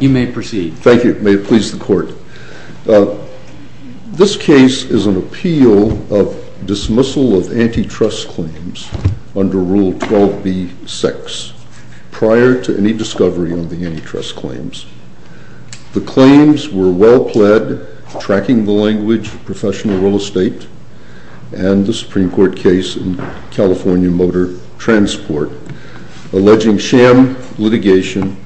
You may proceed. Thank you. May it please the Court. This case is an appeal of dismissal of antitrust claims under Rule 12b-6, prior to any discovery of the antitrust claims. The claims were well-pledged, tracking the language of professional real estate and the Supreme Court case in California Motor Transport, alleging sham litigation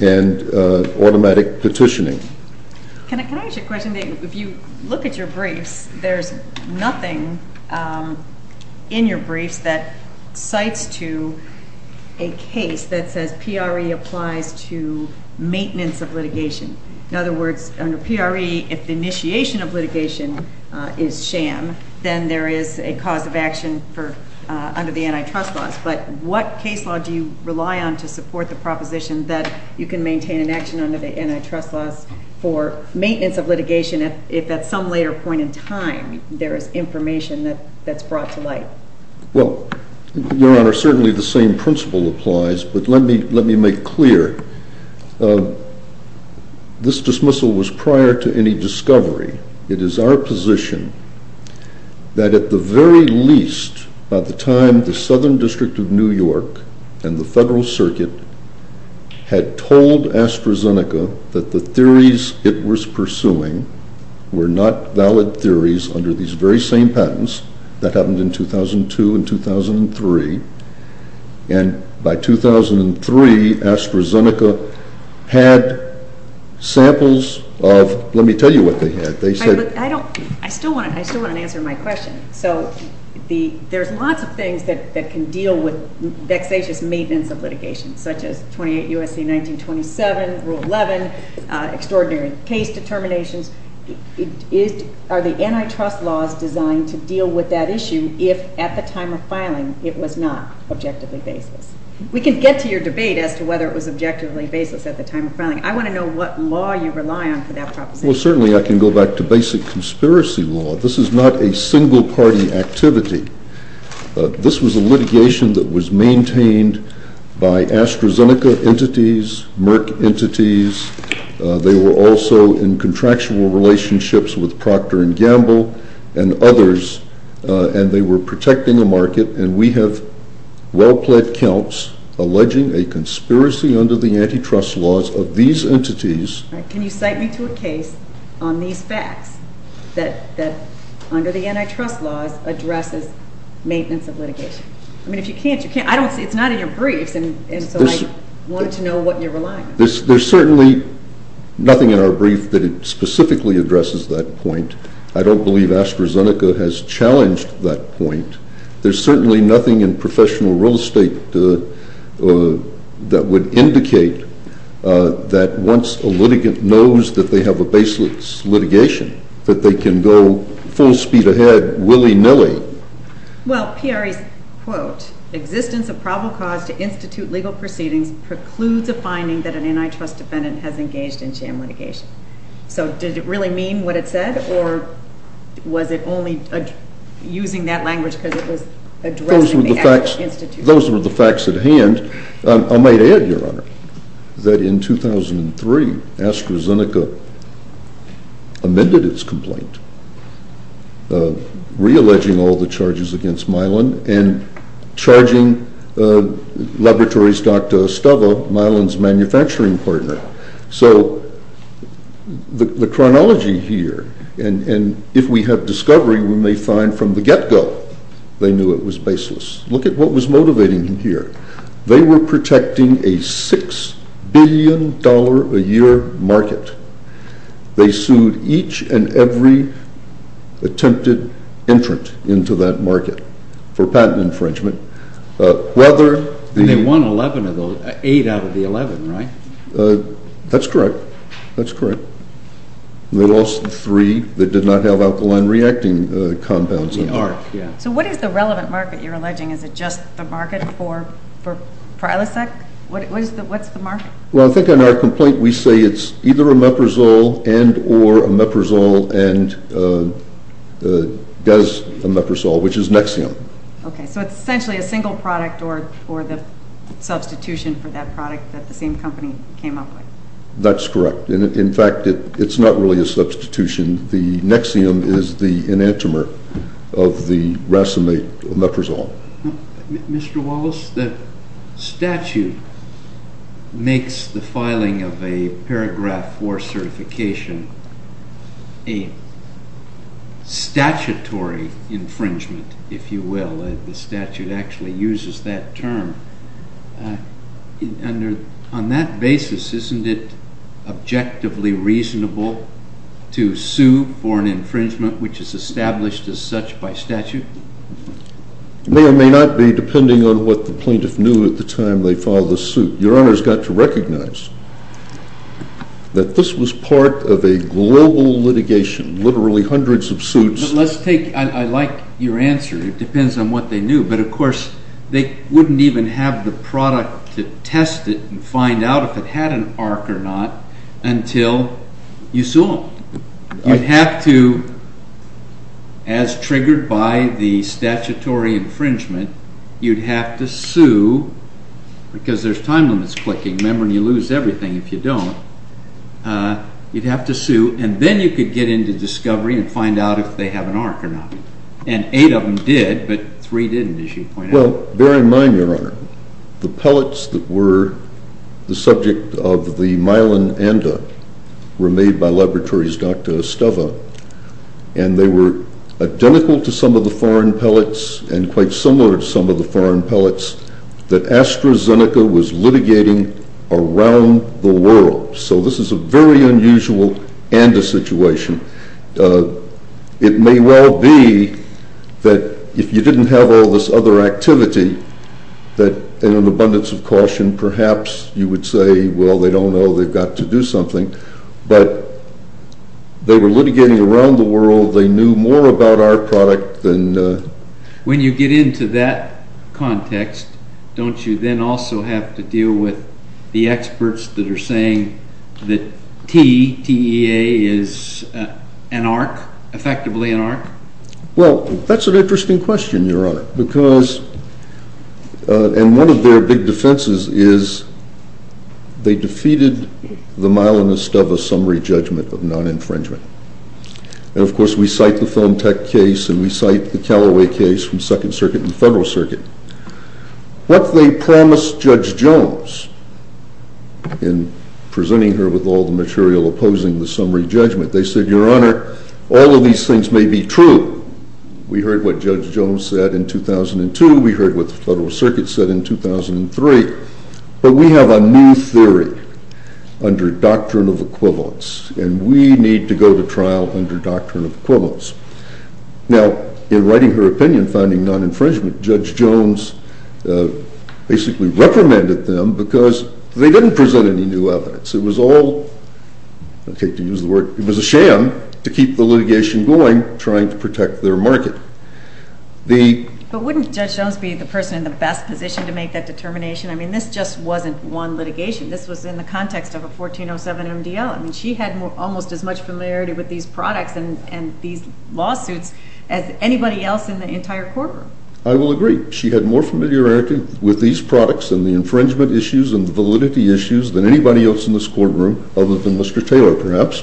and automatic petitioning. Can I ask you a question? If you look at your briefs, there's nothing in your briefs that cites to a case that says PRE applies to maintenance of litigation. In other words, under PRE, if the initiation of litigation is sham, then there is a cause of action under the antitrust laws. But what case law do you rely on to support the proposition that you can maintain an action under the antitrust laws for maintenance of litigation, if at some later point in time there is information that's brought to light? Well, Your Honor, certainly the same principle applies, but let me make clear. This dismissal was prior to any discovery. It is our position that at the very least, by the time the Southern District of New York and the Federal Circuit had told AstraZeneca that the theories it was pursuing were not valid theories under these very same patents, that happened in 2002 and 2003, and by 2003 AstraZeneca had samples of, let me tell you what they had. I still want to answer my question. So there's lots of things that can deal with vexatious maintenance of litigation, such as 28 U.S.C. 1927, Rule 11, extraordinary case determinations. Are the antitrust laws designed to deal with that issue if at the time of filing it was not objectively baseless? We can get to your debate as to whether it was objectively baseless at the time of filing. I want to know what law you rely on for that proposition. Well, certainly I can go back to basic conspiracy law. This is not a single-party activity. This was a litigation that was maintained by AstraZeneca entities, Merck entities. They were also in contractual relationships with Procter & Gamble and others, and they were protecting the market, and we have well-plaid counts alleging a conspiracy under the antitrust laws of these entities. Can you cite me to a case on these facts that under the antitrust laws addresses maintenance of litigation? I mean, if you can't, you can't. I don't see it. It's not in your briefs, and so I wanted to know what you're relying on. There's certainly nothing in our brief that specifically addresses that point. I don't believe AstraZeneca has challenged that point. There's certainly nothing in professional real estate that would indicate that once a litigant knows that they have a baseless litigation, that they can go full speed ahead willy-nilly. Well, PRE's quote, existence of probable cause to institute legal proceedings precludes a finding that an antitrust defendant has engaged in sham litigation. So did it really mean what it said, or was it only using that language because it was addressing the actual institution? Those were the facts at hand. I might add, Your Honor, that in 2003 AstraZeneca amended its complaint, re-alleging all the charges against Mylan, and charging laboratories Dr. Stubbe, Mylan's manufacturing partner. So the chronology here, and if we have discovery, we may find from the get-go they knew it was baseless. Look at what was motivating them here. They were protecting a $6 billion a year market. They sued each and every attempted entrant into that market for patent infringement. And they won eight out of the 11, right? That's correct. They lost three that did not have alkaline reacting compounds. So what is the relevant market you're alleging? Is it just the market for Ilicec? What's the market? Well, I think in our complaint we say it's either a Meprizole and or a Meprizole and does a Meprizole, which is Nexium. Okay. So it's essentially a single product or the substitution for that product that the same company came up with. That's correct. In fact, it's not really a substitution. The Nexium is the enantiomer of the racemate Meprizole. Mr. Wallace, the statute makes the filing of a paragraph 4 certification a statutory infringement, if you will. The statute actually uses that term. On that basis, isn't it objectively reasonable to sue for an infringement which is established as such by statute? It may or may not be, depending on what the plaintiff knew at the time they filed the suit. Your Honor's got to recognize that this was part of a global litigation, literally hundreds of suits. I like your answer. It depends on what they knew. But, of course, they wouldn't even have the product to test it and find out if it had an arc or not until you sue them. You'd have to, as triggered by the statutory infringement, you'd have to sue because there's time limits clicking. Remember, you lose everything if you don't. You'd have to sue, and then you could get into discovery and find out if they have an arc or not. And eight of them did, but three didn't, as you pointed out. Well, bear in mind, Your Honor, the pellets that were the subject of the Myelin anda were made by laboratories Dr. Esteva. And they were identical to some of the foreign pellets and quite similar to some of the foreign pellets that AstraZeneca was litigating around the world. So this is a very unusual ANDA situation. It may well be that if you didn't have all this other activity, that in an abundance of caution, perhaps you would say, well, they don't know, they've got to do something. But they were litigating around the world. They knew more about our product than… When you get into that context, don't you then also have to deal with the experts that are saying that T, T-E-A, is an arc, effectively an arc? Well, that's an interesting question, Your Honor, because… And one of their big defenses is they defeated the Myelin-Esteva summary judgment of non-infringement. And, of course, we cite the Film Tech case and we cite the Callaway case from Second Circuit and Federal Circuit. What they promised Judge Jones in presenting her with all the material opposing the summary judgment, they said, Your Honor, all of these things may be true. We heard what Judge Jones said in 2002. We heard what the Federal Circuit said in 2003. But we have a new theory under doctrine of equivalence, and we need to go to trial under doctrine of equivalence. Now, in writing her opinion finding non-infringement, Judge Jones basically reprimanded them because they didn't present any new evidence. It was a sham to keep the litigation going trying to protect their market. But wouldn't Judge Jones be the person in the best position to make that determination? I mean, this just wasn't one litigation. This was in the context of a 1407 MDL. I mean, she had almost as much familiarity with these products and these lawsuits as anybody else in the entire courtroom. I will agree. She had more familiarity with these products and the infringement issues and the validity issues than anybody else in this courtroom other than Mr. Taylor, perhaps.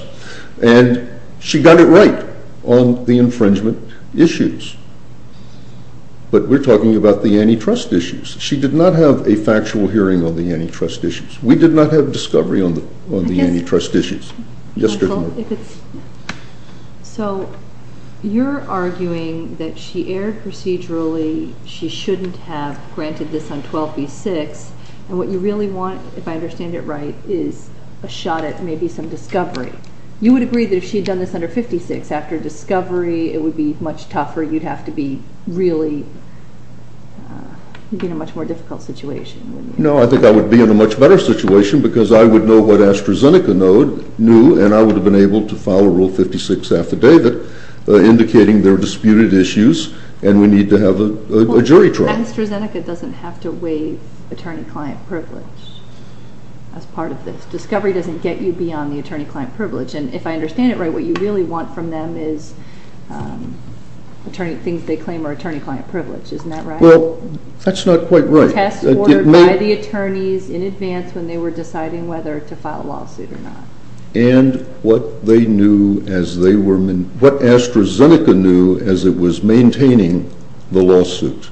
And she got it right on the infringement issues. But we're talking about the antitrust issues. She did not have a factual hearing on the antitrust issues. We did not have discovery on the antitrust issues. So you're arguing that she erred procedurally. She shouldn't have granted this on 12B6. And what you really want, if I understand it right, is a shot at maybe some discovery. You would agree that if she had done this under 56, after discovery it would be much tougher. You'd have to be really in a much more difficult situation. No, I think I would be in a much better situation because I would know what AstraZeneca knew, and I would have been able to file a Rule 56 affidavit indicating their disputed issues, and we need to have a jury trial. AstraZeneca doesn't have to waive attorney-client privilege as part of this. Discovery doesn't get you beyond the attorney-client privilege. And if I understand it right, what you really want from them is things they claim are attorney-client privilege. Isn't that right? Well, that's not quite right. It's a test ordered by the attorneys in advance when they were deciding whether to file a lawsuit or not. And what AstraZeneca knew as it was maintaining the lawsuit.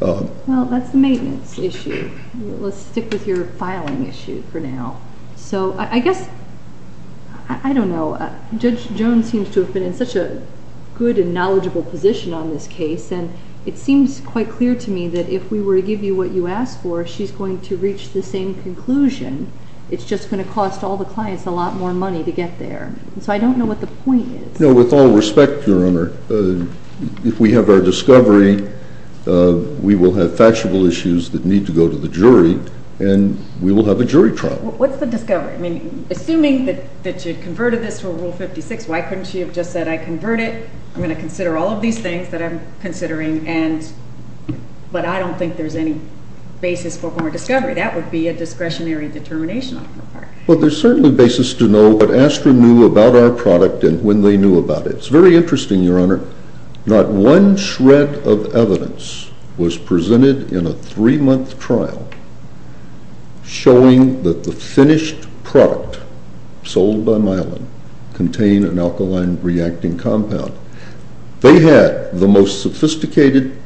Well, that's the maintenance issue. Let's stick with your filing issue for now. So I guess, I don't know. Judge Jones seems to have been in such a good and knowledgeable position on this case, and it seems quite clear to me that if we were to give you what you asked for, she's going to reach the same conclusion. It's just going to cost all the clients a lot more money to get there. So I don't know what the point is. No, with all respect, Your Honor, if we have our discovery, we will have factual issues that need to go to the jury, and we will have a jury trial. What's the discovery? I mean, assuming that you converted this to a Rule 56, why couldn't she have just said, I'm going to consider all of these things that I'm considering, but I don't think there's any basis for former discovery. That would be a discretionary determination on her part. Well, there's certainly basis to know what Astra knew about our product and when they knew about it. It's very interesting, Your Honor. Not one shred of evidence was presented in a three-month trial showing that the finished product sold by Myelin contained an alkaline-reacting compound. They had the most sophisticated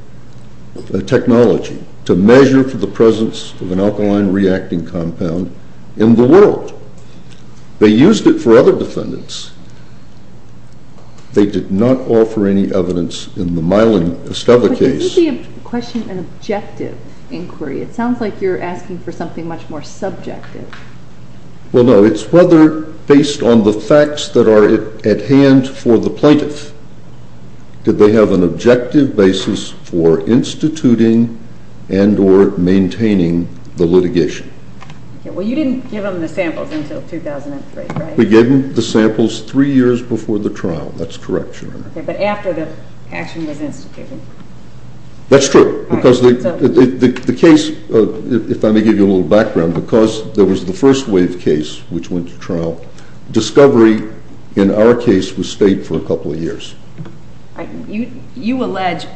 technology to measure for the presence of an alkaline-reacting compound in the world. They used it for other defendants. They did not offer any evidence in the Myelin Esteva case. But isn't the question an objective inquiry? It sounds like you're asking for something much more subjective. Well, no. It's whether, based on the facts that are at hand for the plaintiff, did they have an objective basis for instituting and or maintaining the litigation. Well, you didn't give them the samples until 2003, right? We gave them the samples three years before the trial. That's correct, Your Honor. Okay, but after the action was instituted. That's true. Because the case, if I may give you a little background, because there was the first wave case which went to trial, discovery in our case was state for a couple of years. You allege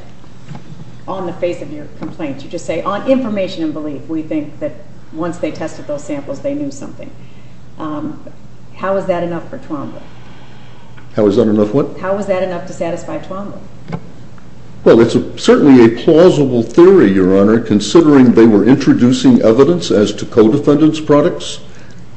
on the face of your complaint, you just say, on information and belief, we think that once they tested those samples, they knew something. How is that enough for Twombly? How is that enough what? How is that enough to satisfy Twombly? Well, it's certainly a plausible theory, Your Honor, considering they were introducing evidence as to co-defendants' products.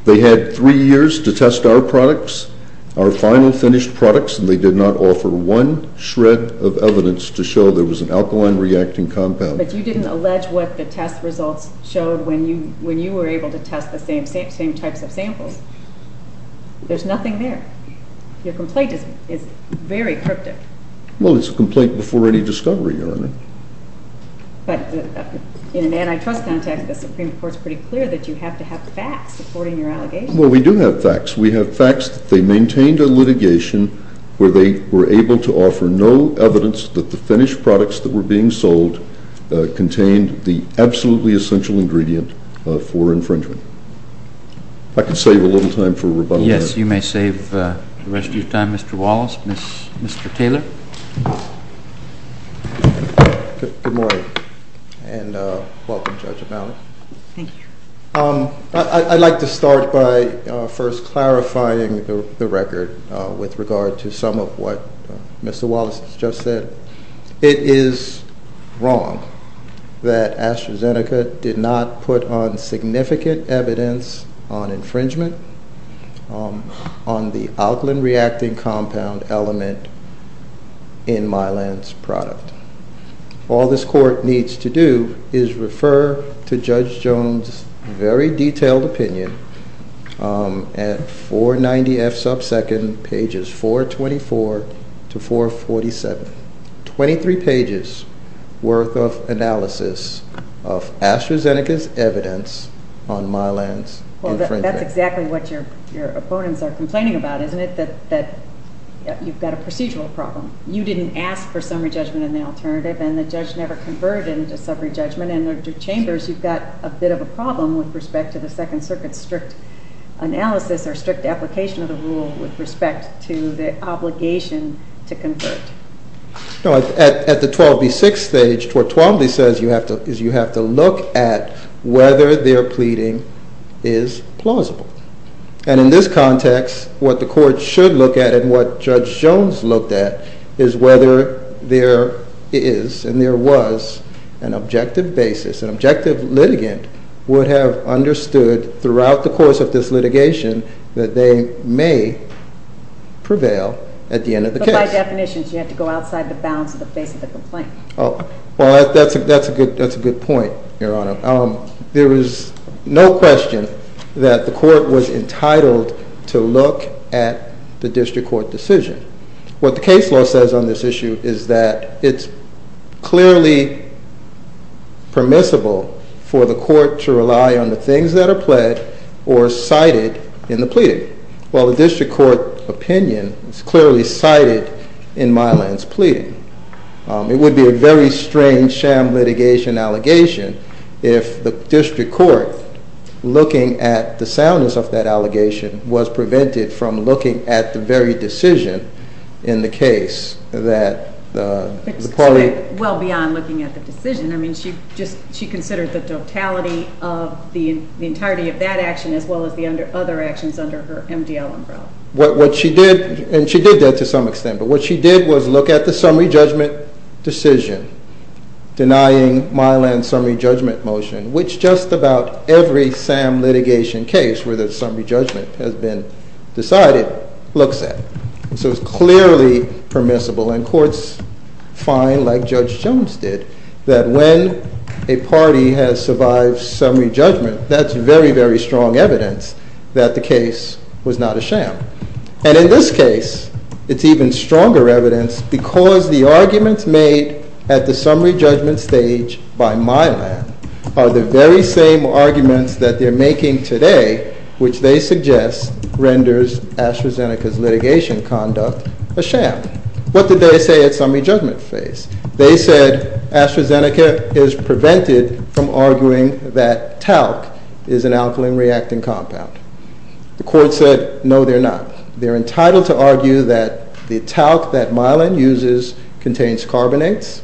They had three years to test our products, our final finished products, and they did not offer one shred of evidence to show there was an alkaline reacting compound. But you didn't allege what the test results showed when you were able to test the same types of samples. There's nothing there. Your complaint is very cryptic. Well, it's a complaint before any discovery, Your Honor. But in an antitrust context, the Supreme Court's pretty clear that you have to have facts supporting your allegations. Well, we do have facts. We have facts that they maintained a litigation where they were able to offer no evidence that the finished products that were being sold contained the absolutely essential ingredient for infringement. If I could save a little time for rebuttal. Yes, you may save the rest of your time, Mr. Wallace. Mr. Taylor? Good morning, and welcome, Judge O'Malley. Thank you. I'd like to start by first clarifying the record with regard to some of what Mr. Wallace just said. It is wrong that AstraZeneca did not put on significant evidence on infringement on the alkaline reacting compound element in Mylan's product. All this court needs to do is refer to Judge Jones' very detailed opinion at 490F subsecond, pages 424 to 447. Twenty-three pages worth of analysis of AstraZeneca's evidence on Mylan's infringement. Well, that's exactly what your opponents are complaining about, isn't it? That you've got a procedural problem. You didn't ask for summary judgment in the alternative, and the judge never converted it into summary judgment. And under Chambers, you've got a bit of a problem with respect to the Second Circuit's strict analysis or strict application of the rule with respect to the obligation to convert. No, at the 12B6 stage, what Twombly says is you have to look at whether their pleading is plausible. And in this context, what the court should look at and what Judge Jones looked at is whether there is and there was an objective basis, an objective litigant would have understood throughout the course of this litigation that they may prevail at the end of the case. But by definition, you have to go outside the bounds of the face of the complaint. Well, that's a good point, Your Honor. There is no question that the court was entitled to look at the district court decision. What the case law says on this issue is that it's clearly permissible for the court to rely on the things that are pled or cited in the pleading, while the district court opinion is clearly cited in Mylan's pleading. It would be a very strange sham litigation allegation if the district court, looking at the soundness of that allegation, was prevented from looking at the very decision in the case. It's well beyond looking at the decision. I mean, she considered the totality of the entirety of that action as well as the other actions under her MDL umbrella. What she did, and she did that to some extent, but what she did was look at the summary judgment decision denying Mylan's summary judgment motion, which just about every SAM litigation case where the summary judgment has been decided looks at. So it's clearly permissible, and courts find, like Judge Jones did, that when a party has survived summary judgment, that's very, very strong evidence that the case was not a sham. And in this case, it's even stronger evidence because the arguments made at the summary judgment stage by Mylan are the very same arguments that they're making today, which they suggest renders AstraZeneca's litigation conduct a sham. What did they say at summary judgment phase? They said AstraZeneca is prevented from arguing that talc is an alkaline reacting compound. The court said no, they're not. They're entitled to argue that the talc that Mylan uses contains carbonates,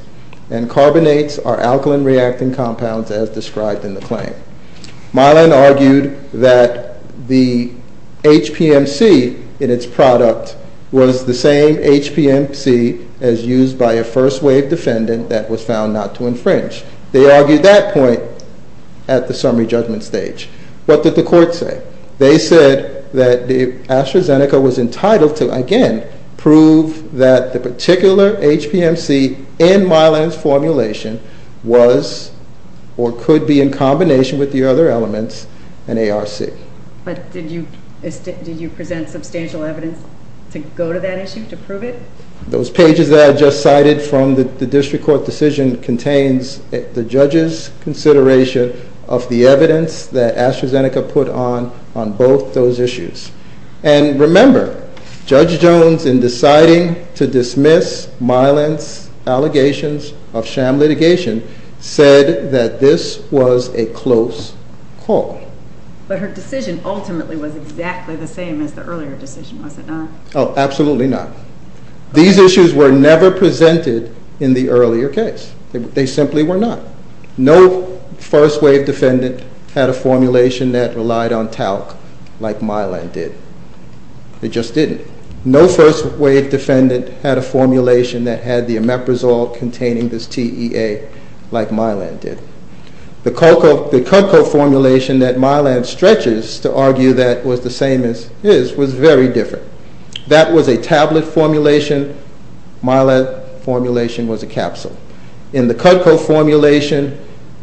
and carbonates are alkaline reacting compounds as described in the claim. Mylan argued that the HPMC in its product was the same HPMC as used by a first wave defendant that was found not to infringe. They argued that point at the summary judgment stage. What did the court say? They said that AstraZeneca was entitled to, again, prove that the particular HPMC in Mylan's formulation was or could be in combination with the other elements in ARC. But did you present substantial evidence to go to that issue, to prove it? Those pages that I just cited from the district court decision contains the judge's consideration of the evidence that AstraZeneca put on on both those issues. And remember, Judge Jones, in deciding to dismiss Mylan's allegations of sham litigation, said that this was a close call. But her decision ultimately was exactly the same as the earlier decision, was it not? Oh, absolutely not. These issues were never presented in the earlier case. They simply were not. No first wave defendant had a formulation that relied on talc like Mylan did. It just didn't. No first wave defendant had a formulation that had the omeprazole containing this TEA like Mylan did. The Kutco formulation that Mylan stretches to argue that was the same as his was very different. That was a tablet formulation. Mylan's formulation was a capsule. In the Kutco formulation,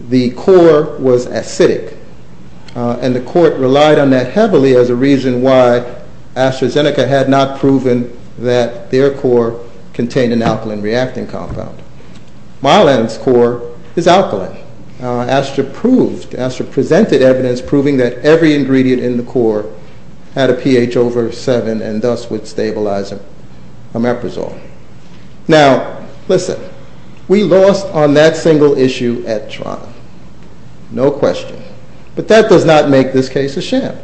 the core was acidic. And the court relied on that heavily as a reason why AstraZeneca had not proven that their core contained an alkaline reacting compound. Mylan's core is alkaline. Astra presented evidence proving that every ingredient in the core had a pH over 7 and thus would stabilize omeprazole. Now, listen. We lost on that single issue at trial. No question. But that does not make this case a sham.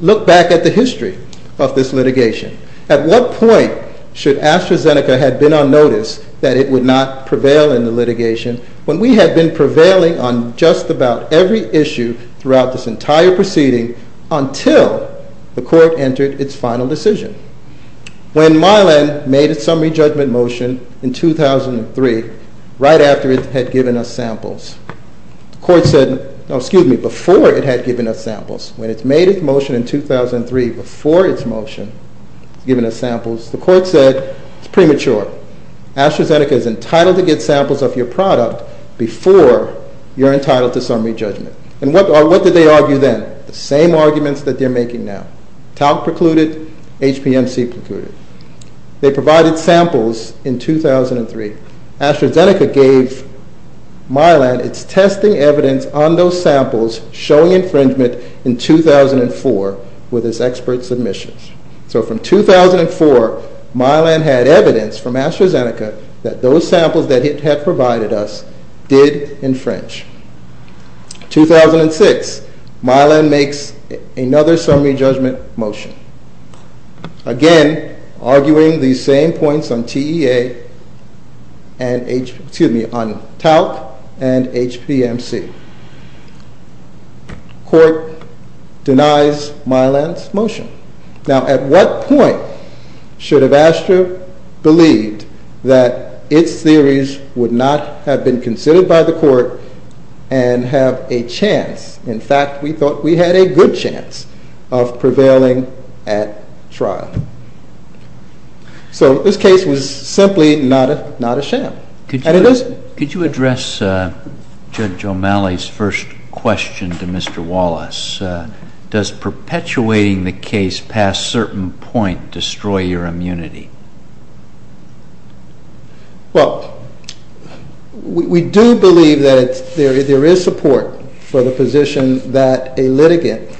Look back at the history of this litigation. At what point should AstraZeneca have been on notice that it would not prevail in the litigation when we had been prevailing on just about every issue throughout this entire proceeding until the court entered its final decision? When Mylan made its summary judgment motion in 2003, right after it had given us samples, the court said, no, excuse me, before it had given us samples. When it made its motion in 2003, before its motion, given us samples, the court said, it's premature. AstraZeneca is entitled to get samples of your product before you're entitled to summary judgment. And what did they argue then? The same arguments that they're making now. Talc precluded, HPMC precluded. They provided samples in 2003. AstraZeneca gave Mylan its testing evidence on those samples showing infringement in 2004 with its expert submissions. So from 2004, Mylan had evidence from AstraZeneca that those samples that it had provided us did infringe. 2006, Mylan makes another summary judgment motion. Again, arguing these same points on TEA and, excuse me, on talc and HPMC. Court denies Mylan's motion. Now, at what point should have Astra believed that its theories would not have been considered by the court and have a chance? In fact, we thought we had a good chance of prevailing at trial. So this case was simply not a sham. Could you address Judge O'Malley's first question to Mr. Wallace? Does perpetuating the case past certain point destroy your immunity? Well, we do believe that there is support for the position that a litigant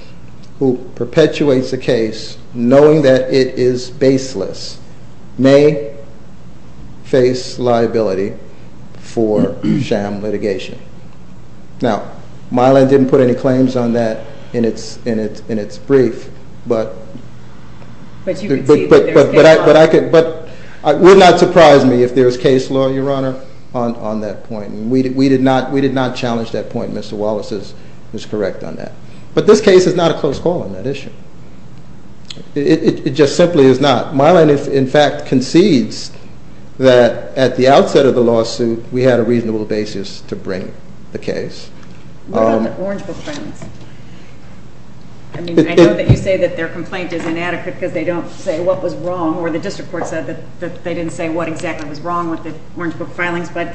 who perpetuates a case knowing that it is baseless may face liability for sham litigation. Now, Mylan didn't put any claims on that in its brief. But you can see that there's case law. But it would not surprise me if there's case law, Your Honor, on that point. We did not challenge that point. Mr. Wallace is correct on that. But this case is not a close call on that issue. It just simply is not. Mylan, in fact, concedes that at the outset of the lawsuit, we had a reasonable basis to bring the case. What about the Orange Book filings? I mean, I know that you say that their complaint is inadequate because they don't say what was wrong, or the district court said that they didn't say what exactly was wrong with the Orange Book filings. But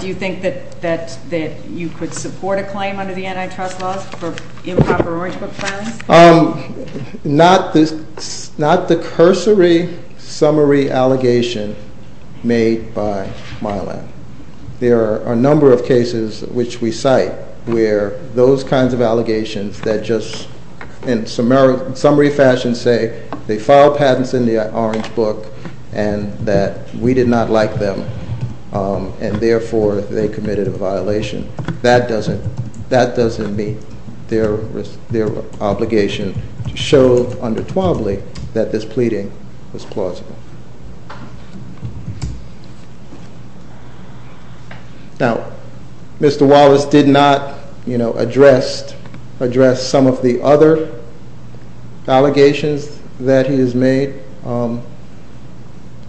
do you think that you could support a claim under the antitrust laws for improper Orange Book filings? Not the cursory summary allegation made by Mylan. There are a number of cases which we cite where those kinds of allegations that just, in summary fashion, say they filed patents in the Orange Book and that we did not like them. And therefore, they committed a violation. That doesn't meet their obligation to show under Twobly that this pleading was plausible. Now, Mr. Wallace did not address some of the other allegations that he has made.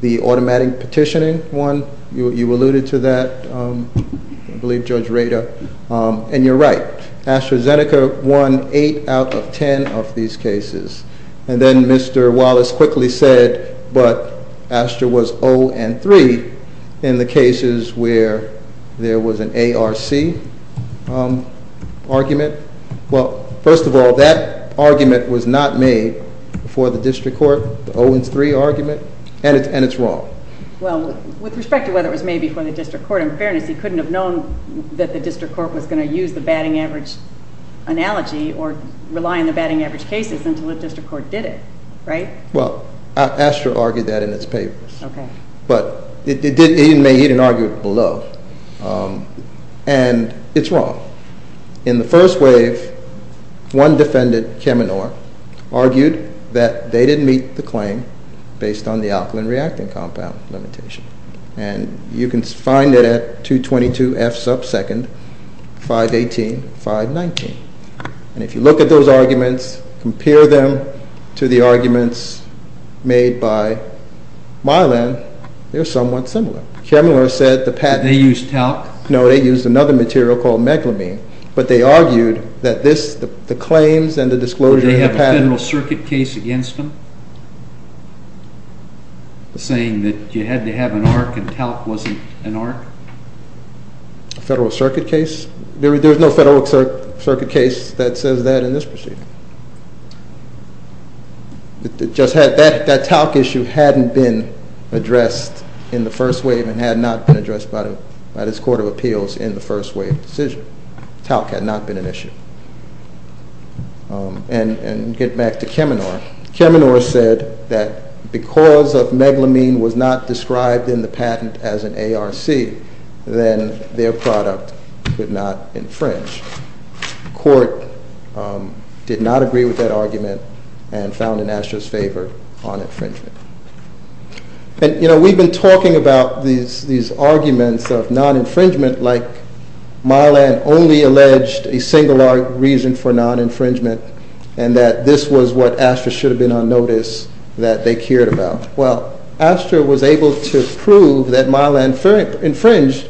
The automatic petitioning one, you alluded to that, I believe, Judge Rader. And you're right. AstraZeneca won 8 out of 10 of these cases. And then Mr. Wallace quickly said, but Astra was 0 and 3 in the cases where there was an ARC argument. Well, first of all, that argument was not made before the district court, the 0 and 3 argument, and it's wrong. Well, with respect to whether it was made before the district court, in fairness, he couldn't have known that the district court was going to use the batting average analogy or rely on the batting average cases until the district court did it, right? Well, Astra argued that in its papers. Okay. But he didn't argue it below. And it's wrong. In the first wave, one defendant, Cheminor, argued that they didn't meet the claim based on the alkaline reacting compound limitation. And you can find it at 222 F sub second, 518, 519. And if you look at those arguments, compare them to the arguments made by Mylan, they're somewhat similar. Cheminor said the patent. Did they use talc? No, they used another material called megalamine. But they argued that the claims and the disclosure of the patent. Did they have a Federal Circuit case against them, saying that you had to have an ARC and talc wasn't an ARC? A Federal Circuit case? There's no Federal Circuit case that says that in this proceeding. That talc issue hadn't been addressed in the first wave and had not been addressed by this Court of Appeals in the first wave decision. Talc had not been an issue. And get back to Cheminor. Cheminor said that because of megalamine was not described in the patent as an ARC, then their product could not infringe. The court did not agree with that argument and found in Astra's favor on infringement. And, you know, we've been talking about these arguments of non-infringement, like Mylan only alleged a single reason for non-infringement, and that this was what Astra should have been on notice that they cared about. Well, Astra was able to prove that Mylan infringed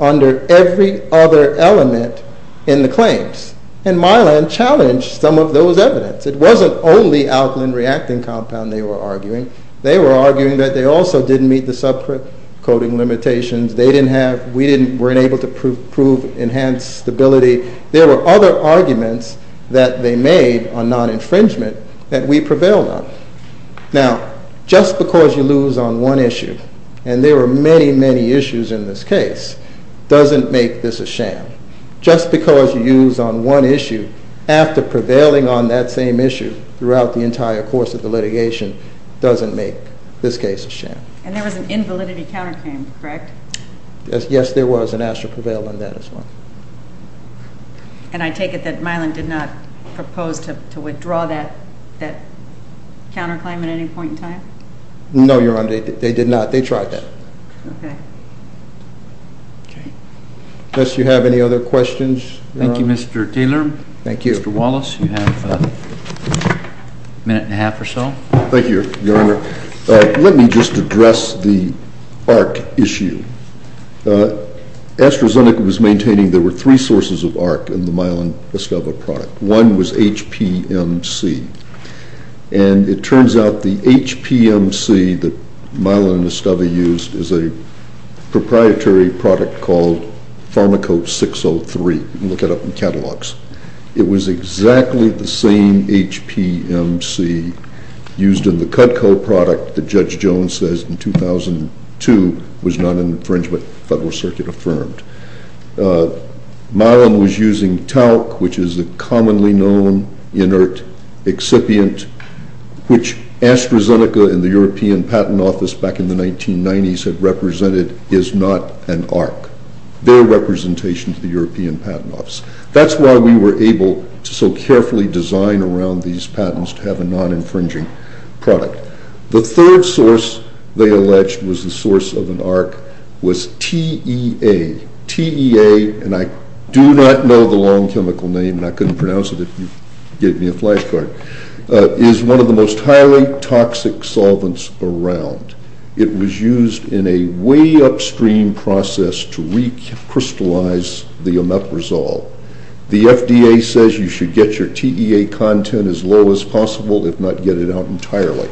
under every other element in the claims. And Mylan challenged some of those evidence. It wasn't only alkaline reacting compound they were arguing. They were arguing that they also didn't meet the subquoting limitations. They didn't have, we weren't able to prove enhanced stability. There were other arguments that they made on non-infringement that we prevailed on. Now, just because you lose on one issue, and there were many, many issues in this case, doesn't make this a sham. Just because you lose on one issue after prevailing on that same issue throughout the entire course of the litigation doesn't make this case a sham. And there was an invalidity counterclaim, correct? Yes, there was, and Astra prevailed on that as well. And I take it that Mylan did not propose to withdraw that counterclaim at any point in time? No, Your Honor, they did not. They tried that. Okay. Unless you have any other questions? Thank you, Mr. Taylor. Thank you. Mr. Wallace, you have a minute and a half or so. Thank you, Your Honor. Let me just address the ARC issue. AstraZeneca was maintaining there were three sources of ARC in the Mylan Esteve product. One was HPMC, and it turns out the HPMC that Mylan Esteve used is a proprietary product called Pharmacope 603. You can look it up in catalogs. It was exactly the same HPMC used in the Cutco product that Judge Jones says in 2002 was not an infringement, Federal Circuit affirmed. Mylan was using Talc, which is a commonly known inert excipient, which AstraZeneca and the European Patent Office back in the 1990s had represented is not an ARC. Their representation to the European Patent Office. That's why we were able to so carefully design around these patents to have a non-infringing product. The third source they alleged was the source of an ARC was TEA. TEA, and I do not know the long chemical name, and I couldn't pronounce it if you gave me a flash card, is one of the most highly toxic solvents around. It was used in a way upstream process to recrystallize the omeprazole. The FDA says you should get your TEA content as low as possible, if not get it out entirely.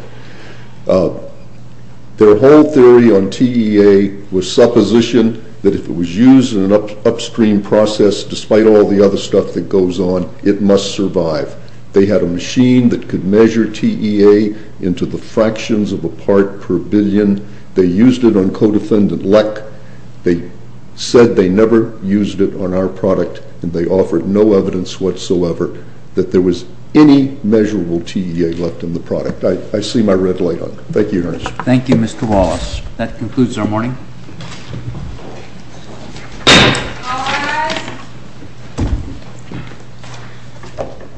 Their whole theory on TEA was supposition that if it was used in an upstream process, despite all the other stuff that goes on, it must survive. They had a machine that could measure TEA into the fractions of a part per billion. They used it on co-defendant lek. They said they never used it on our product, and they offered no evidence whatsoever that there was any measurable TEA left in the product. I see my red light on. Thank you, Your Honor. Thank you, Mr. Wallace. That concludes our morning.